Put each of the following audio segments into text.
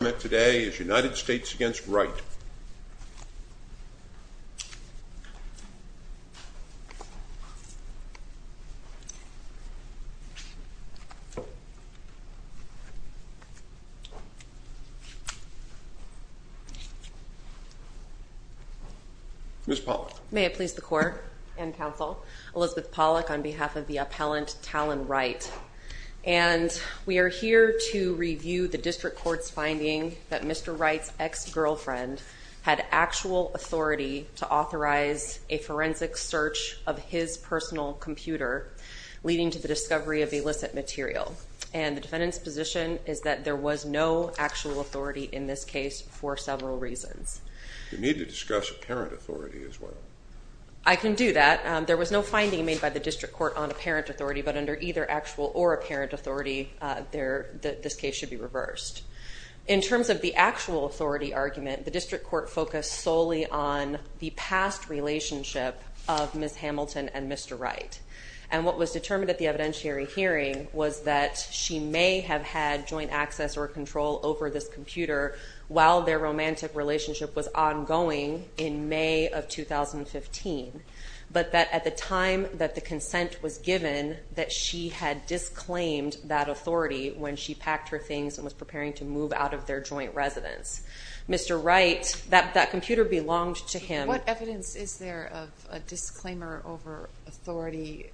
United States v. Wright May it please the Court and Counsel, Elizabeth Pollack on behalf of the appellant Talon Wright. And we are here to review the finding that Mr. Wright's ex-girlfriend had actual authority to authorize a forensic search of his personal computer, leading to the discovery of illicit material. And the defendant's position is that there was no actual authority in this case for several reasons. We need to discuss apparent authority as well. I can do that. There was no finding made by the District Court on apparent authority, but under either actual or apparent authority, this case should be reversed. In terms of the actual authority argument, the District Court focused solely on the past relationship of Ms. Hamilton and Mr. Wright. And what was determined at the evidentiary hearing was that she may have had joint access or control over this computer while their romantic relationship was ongoing in May of 2015, but that at the time that the consent was given, that she had disclaimed that authority when she was looking for things and was preparing to move out of their joint residence. Mr. Wright, that computer belonged to him. What evidence is there of a disclaimer over authority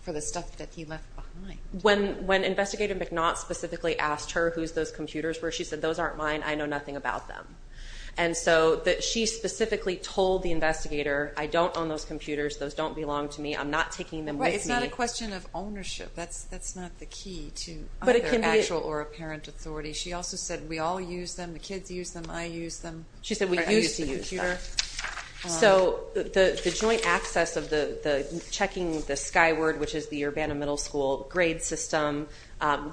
for the stuff that he left behind? When Investigator McNaught specifically asked her, who's those computers, where she said, those aren't mine, I know nothing about them. And so she specifically told the investigator, I don't own those computers, those don't belong to me, I'm not taking them with me. It's not a question of ownership, that's not the key to their actual or apparent authority. She also said, we all use them, the kids use them, I use them. She said we used to use them. So the joint access of checking the Skyward, which is the Urbana Middle School grade system,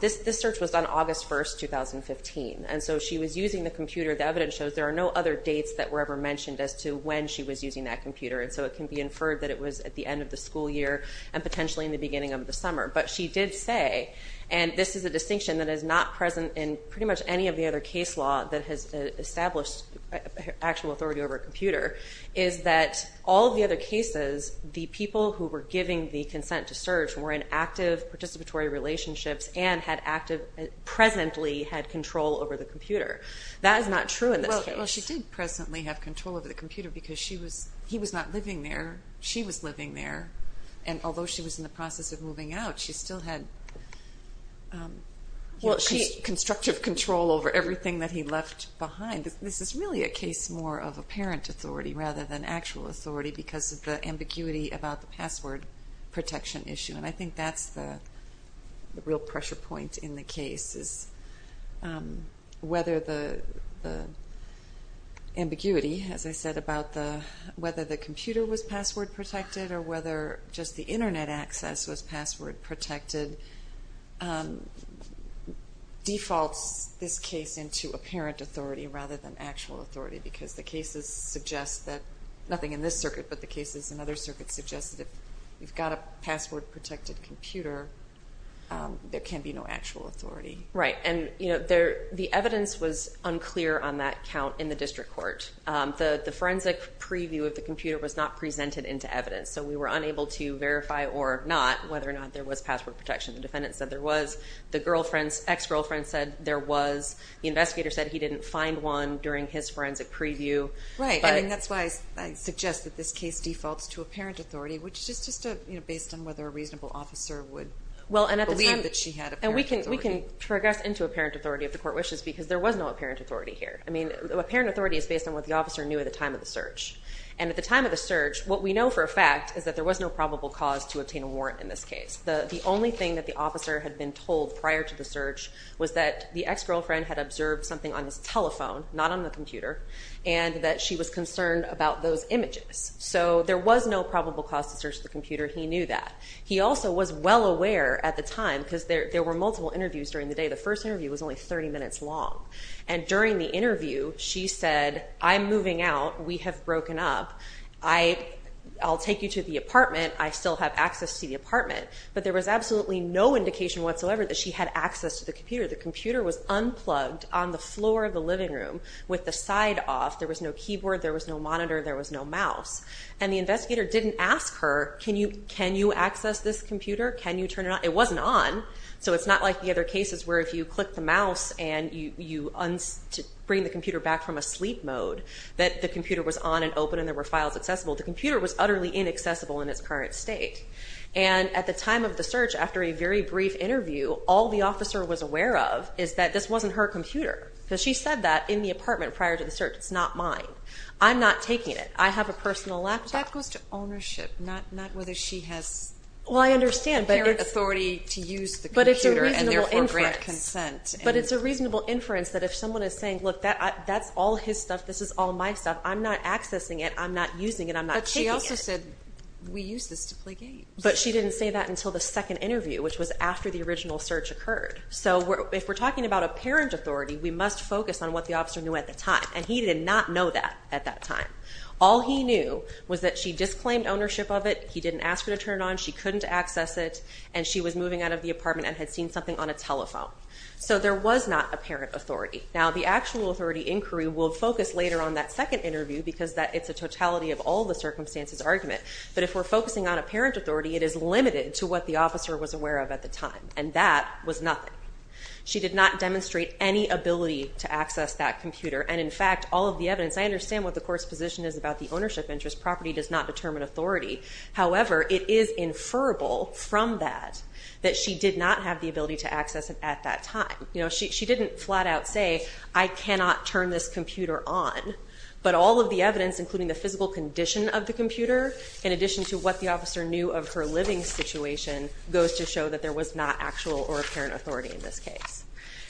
this search was done August 1st, 2015. And so she was using the computer, the evidence shows there are no other dates that were ever mentioned as to when she was using that computer. And so it can be inferred that it was at the end of the school year and potentially in the beginning of the summer. But she did say, and this is a distinction that is not present in pretty much any of the other case law that has established actual authority over a computer, is that all of the other cases, the people who were giving the consent to search were in active participatory relationships and had active, presently had control over the computer. That is not true in this case. Well, she did presently have control over the computer because he was not living there, and although she was in the process of moving out, she still had constructive control over everything that he left behind. This is really a case more of apparent authority rather than actual authority because of the ambiguity about the password protection issue. And I think that's the real pressure point in the case, is whether the ambiguity, as I said, about whether the computer was password protected or whether just the Internet access was password protected, defaults this case into apparent authority rather than actual authority because the cases suggest that nothing in this circuit but the cases in other circuits suggest that if you've got a password-protected computer, there can be no actual authority. Right. And the evidence was unclear on that count in the district court. The forensic preview of the computer was not presented into evidence, so we were unable to verify or not whether or not there was password protection. The defendant said there was. The girlfriend's ex-girlfriend said there was. The investigator said he didn't find one during his forensic preview. Right, and that's why I suggest that this case defaults to apparent authority, which is just based on whether a reasonable officer would believe that she had apparent authority. And we can progress into apparent authority if the court wishes because there was no apparent authority here. I mean apparent authority is based on what the officer knew at the time of the search. And at the time of the search, what we know for a fact is that there was no probable cause to obtain a warrant in this case. The only thing that the officer had been told prior to the search was that the ex-girlfriend had observed something on his telephone, not on the computer, and that she was concerned about those images. So there was no probable cause to search the computer. He knew that. He also was well aware at the time because there were multiple interviews during the day. The first interview was only 30 minutes long. And during the interview, she said, I'm moving out. We have broken up. I'll take you to the apartment. I still have access to the apartment. But there was absolutely no indication whatsoever that she had access to the computer. The computer was unplugged on the floor of the living room with the side off. There was no keyboard. There was no monitor. There was no mouse. And the investigator didn't ask her, can you access this computer? Can you turn it on? It wasn't on. So it's not like the other cases where if you click the mouse and you bring the computer back from a sleep mode, that the computer was on and open and there were files accessible. The computer was utterly inaccessible in its current state. And at the time of the search, after a very brief interview, all the officer was aware of is that this wasn't her computer because she said that in the apartment prior to the search. It's not mine. I'm not taking it. I have a personal laptop. That goes to ownership, not whether she has. Well, I understand. But it's a reasonable inference that if someone is saying, look, that's all his stuff. This is all my stuff. I'm not accessing it. I'm not using it. I'm not taking it. But she also said we use this to play games. But she didn't say that until the second interview, which was after the original search occurred. So if we're talking about a parent authority, we must focus on what the officer knew at the time. And he did not know that at that time. All he knew was that she disclaimed ownership of it. He didn't ask her to turn it on. She couldn't access it. And she was moving out of the apartment and had seen something on a telephone. So there was not a parent authority. Now, the actual authority inquiry will focus later on that second interview because it's a totality of all the circumstances argument. But if we're focusing on a parent authority, it is limited to what the officer was aware of at the time. And that was nothing. She did not demonstrate any ability to access that computer. And, in fact, all of the evidence, I understand what the court's position is about the ownership interest. Property does not determine authority. However, it is inferable from that that she did not have the ability to access it at that time. You know, she didn't flat out say, I cannot turn this computer on. But all of the evidence, including the physical condition of the computer, in addition to what the officer knew of her living situation, goes to show that there was not actual or apparent authority in this case.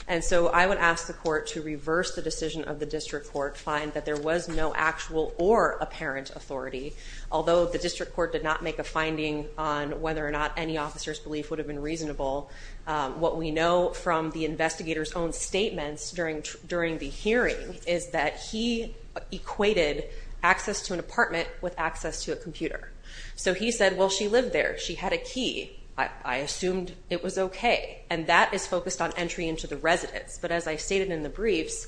And so I would ask the court to reverse the decision of the district court, find that there was no actual or apparent authority, although the district court did not make a finding on whether or not any officer's belief would have been reasonable. What we know from the investigator's own statements during the hearing is that he equated access to an apartment with access to a computer. So he said, well, she lived there. She had a key. I assumed it was okay. And that is focused on entry into the residence. But as I stated in the briefs,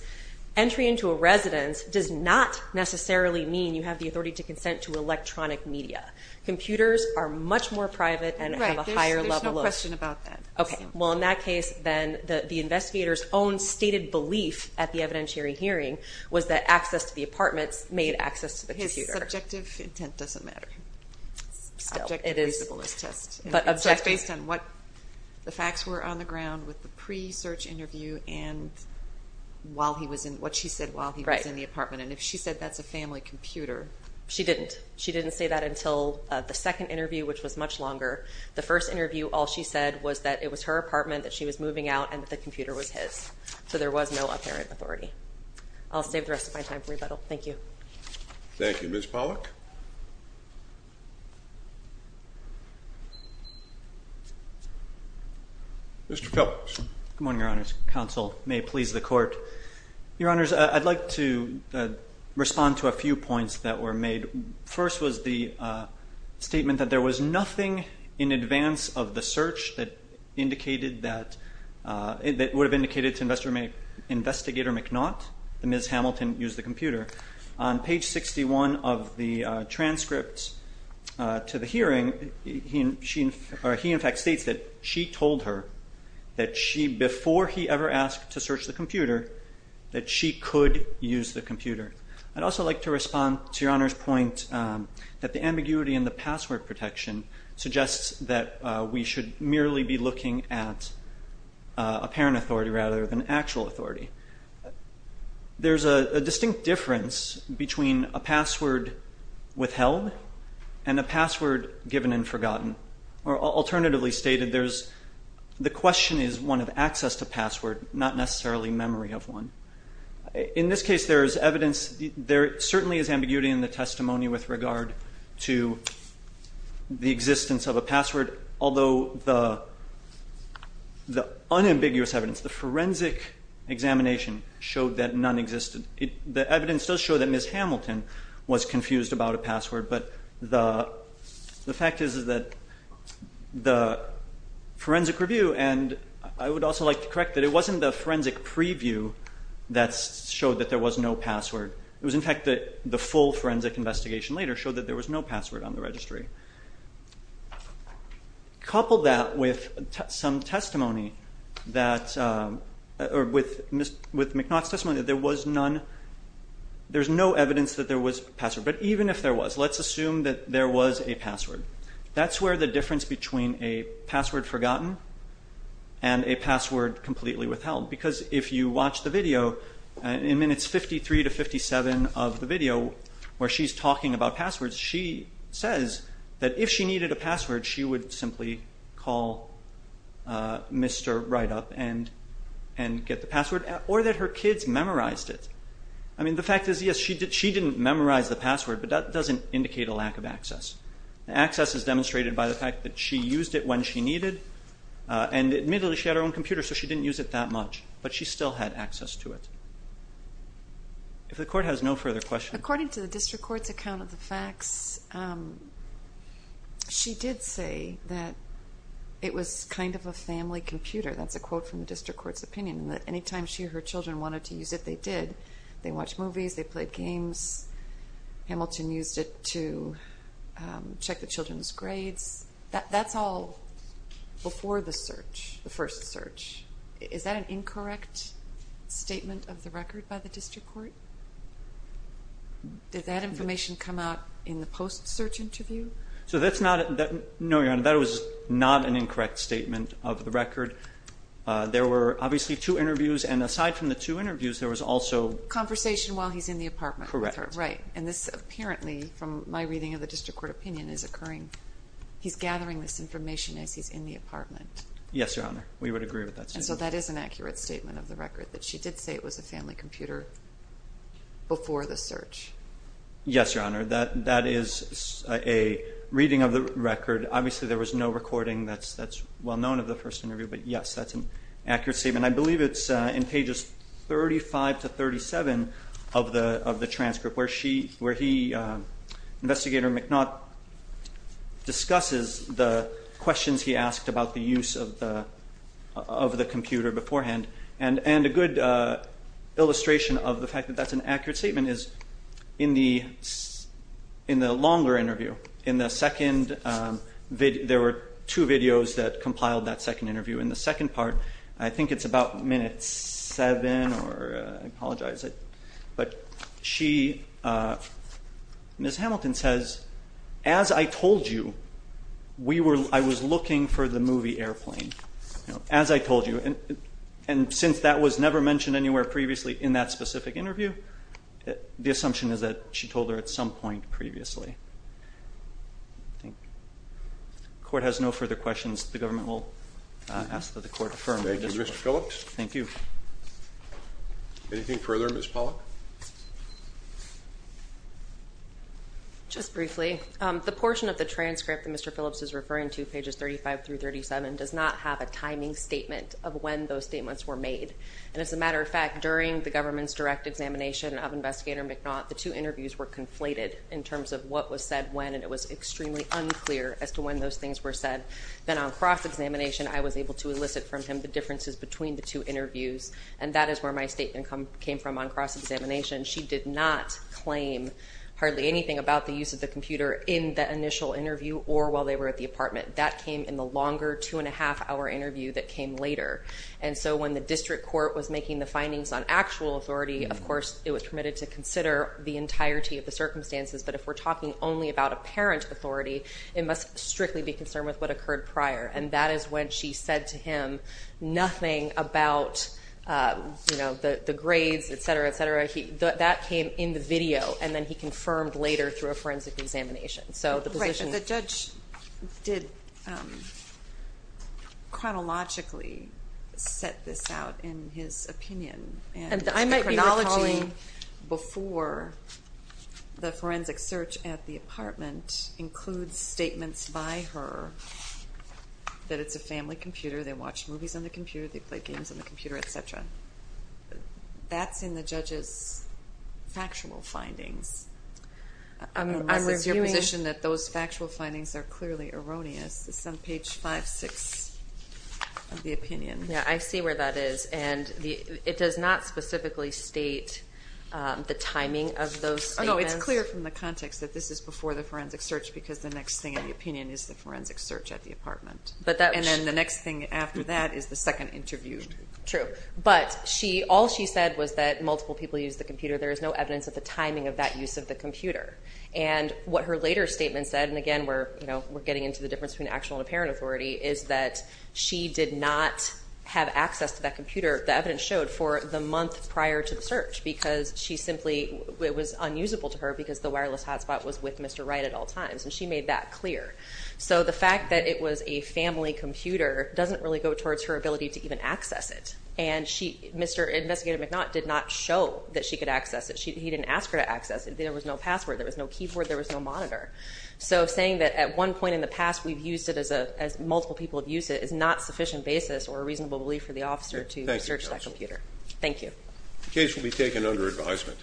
entry into a residence does not necessarily mean you have the authority to consent to electronic media. Computers are much more private and have a higher level of- Right. There's no question about that. Okay. Well, in that case, then the investigator's own stated belief at the evidentiary hearing was that access to the apartments made access to the computer. His subjective intent doesn't matter. Still. It is- Subjective is the ballist test. But objective- So it's based on what the facts were on the ground with the pre-search interview and what she said while he was in the apartment. Right. And if she said that's a family computer- She didn't. She didn't say that until the second interview, which was much longer. The first interview, all she said was that it was her apartment that she was moving out and that the computer was his. So there was no apparent authority. I'll save the rest of my time for rebuttal. Thank you. Thank you. Ms. Pollack. Mr. Phillips. Good morning, Your Honors. Counsel may please the court. Your Honors, I'd like to respond to a few points that were made. First was the statement that there was nothing in advance of the search that indicated that- that would have indicated to Investigator McNaught that Ms. Hamilton used the computer. On page 61 of the transcript to the hearing, he in fact states that she told her that she, before he ever asked to search the computer, that she could use the computer. I'd also like to respond to Your Honor's point that the ambiguity in the password protection suggests that we should merely be looking at apparent authority rather than actual authority. There's a distinct difference between a password withheld and a password given and forgotten. Alternatively stated, there's-the question is one of access to password, not necessarily memory of one. In this case, there is evidence-there certainly is ambiguity in the testimony with regard to the existence of a password, although the unambiguous evidence, the forensic examination showed that none existed. The fact is that the forensic review, and I would also like to correct that it wasn't the forensic preview that showed that there was no password. It was in fact that the full forensic investigation later showed that there was no password on the registry. Couple that with some testimony that-or with McNaught's testimony that there was none-there's no evidence that there was a password. But even if there was, let's assume that there was a password. That's where the difference between a password forgotten and a password completely withheld, because if you watch the video, in minutes 53 to 57 of the video where she's talking about passwords, she says that if she needed a password, she would simply call Mr. Wright up and get the password, or that her kids memorized it. I mean, the fact is, yes, she didn't memorize the password, but that doesn't indicate a lack of access. The access is demonstrated by the fact that she used it when she needed, and admittedly she had her own computer, so she didn't use it that much, but she still had access to it. If the court has no further questions. According to the district court's account of the facts, she did say that it was kind of a family computer. That's a quote from the district court's opinion, that any time she or her children wanted to use it, they did. They watched movies. They played games. Hamilton used it to check the children's grades. That's all before the search, the first search. Is that an incorrect statement of the record by the district court? Did that information come out in the post-search interview? No, Your Honor, that was not an incorrect statement of the record. There were obviously two interviews, and aside from the two interviews, there was also conversation while he's in the apartment with her. Correct. Right, and this apparently, from my reading of the district court opinion, is occurring. He's gathering this information as he's in the apartment. Yes, Your Honor, we would agree with that statement. And so that is an accurate statement of the record, that she did say it was a family computer before the search. Yes, Your Honor, that is a reading of the record. Obviously there was no recording that's well known of the first interview, but, yes, that's an accurate statement. I believe it's in pages 35 to 37 of the transcript, where he, Investigator McNaught, discusses the questions he asked about the use of the computer beforehand. And a good illustration of the fact that that's an accurate statement is, in the longer interview, in the second, there were two videos that compiled that second interview. In the second part, I think it's about minute seven, or I apologize, but she, Ms. Hamilton, says, as I told you, I was looking for the movie Airplane, as I told you. And since that was never mentioned anywhere previously in that specific interview, the assumption is that she told her at some point previously. The court has no further questions. The government will ask that the court affirm the testimony. Thank you, Mr. Phillips. Thank you. Anything further, Ms. Pollack? Just briefly, the portion of the transcript that Mr. Phillips is referring to, pages 35 through 37, does not have a timing statement of when those statements were made. And, as a matter of fact, during the government's direct examination of Investigator McNaught, the two interviews were conflated in terms of what was said when, and it was extremely unclear as to when those things were said. Then on cross-examination, I was able to elicit from him the differences between the two interviews, and that is where my statement came from on cross-examination. She did not claim hardly anything about the use of the computer in the initial interview or while they were at the apartment. That came in the longer two-and-a-half-hour interview that came later. And so when the district court was making the findings on actual authority, of course it was permitted to consider the entirety of the circumstances, but if we're talking only about apparent authority, it must strictly be concerned with what occurred prior, and that is when she said to him nothing about the grades, et cetera, et cetera. That came in the video, and then he confirmed later through a forensic examination. So the position is the judge did chronologically set this out in his opinion. I might be recalling before the forensic search at the apartment includes statements by her that it's a family computer, they watch movies on the computer, they play games on the computer, et cetera. That's in the judge's factual findings. I'm of the position that those factual findings are clearly erroneous. This is on page 5-6 of the opinion. Yeah, I see where that is. And it does not specifically state the timing of those statements. No, it's clear from the context that this is before the forensic search because the next thing in the opinion is the forensic search at the apartment. And then the next thing after that is the second interview. True. But all she said was that multiple people use the computer. There is no evidence of the timing of that use of the computer. And what her later statement said, and, again, we're getting into the difference between actual and apparent authority, is that she did not have access to that computer, the evidence showed, for the month prior to the search because she simply was unusable to her because the wireless hotspot was with Mr. Wright at all times. And she made that clear. So the fact that it was a family computer doesn't really go towards her ability to even access it. And Mr. Investigator McNaught did not show that she could access it. He didn't ask her to access it. There was no password. There was no keyboard. There was no monitor. So saying that at one point in the past we've used it as multiple people have used it is not sufficient basis or a reasonable belief for the officer to search that computer. Thank you. The case will be taken under advisement.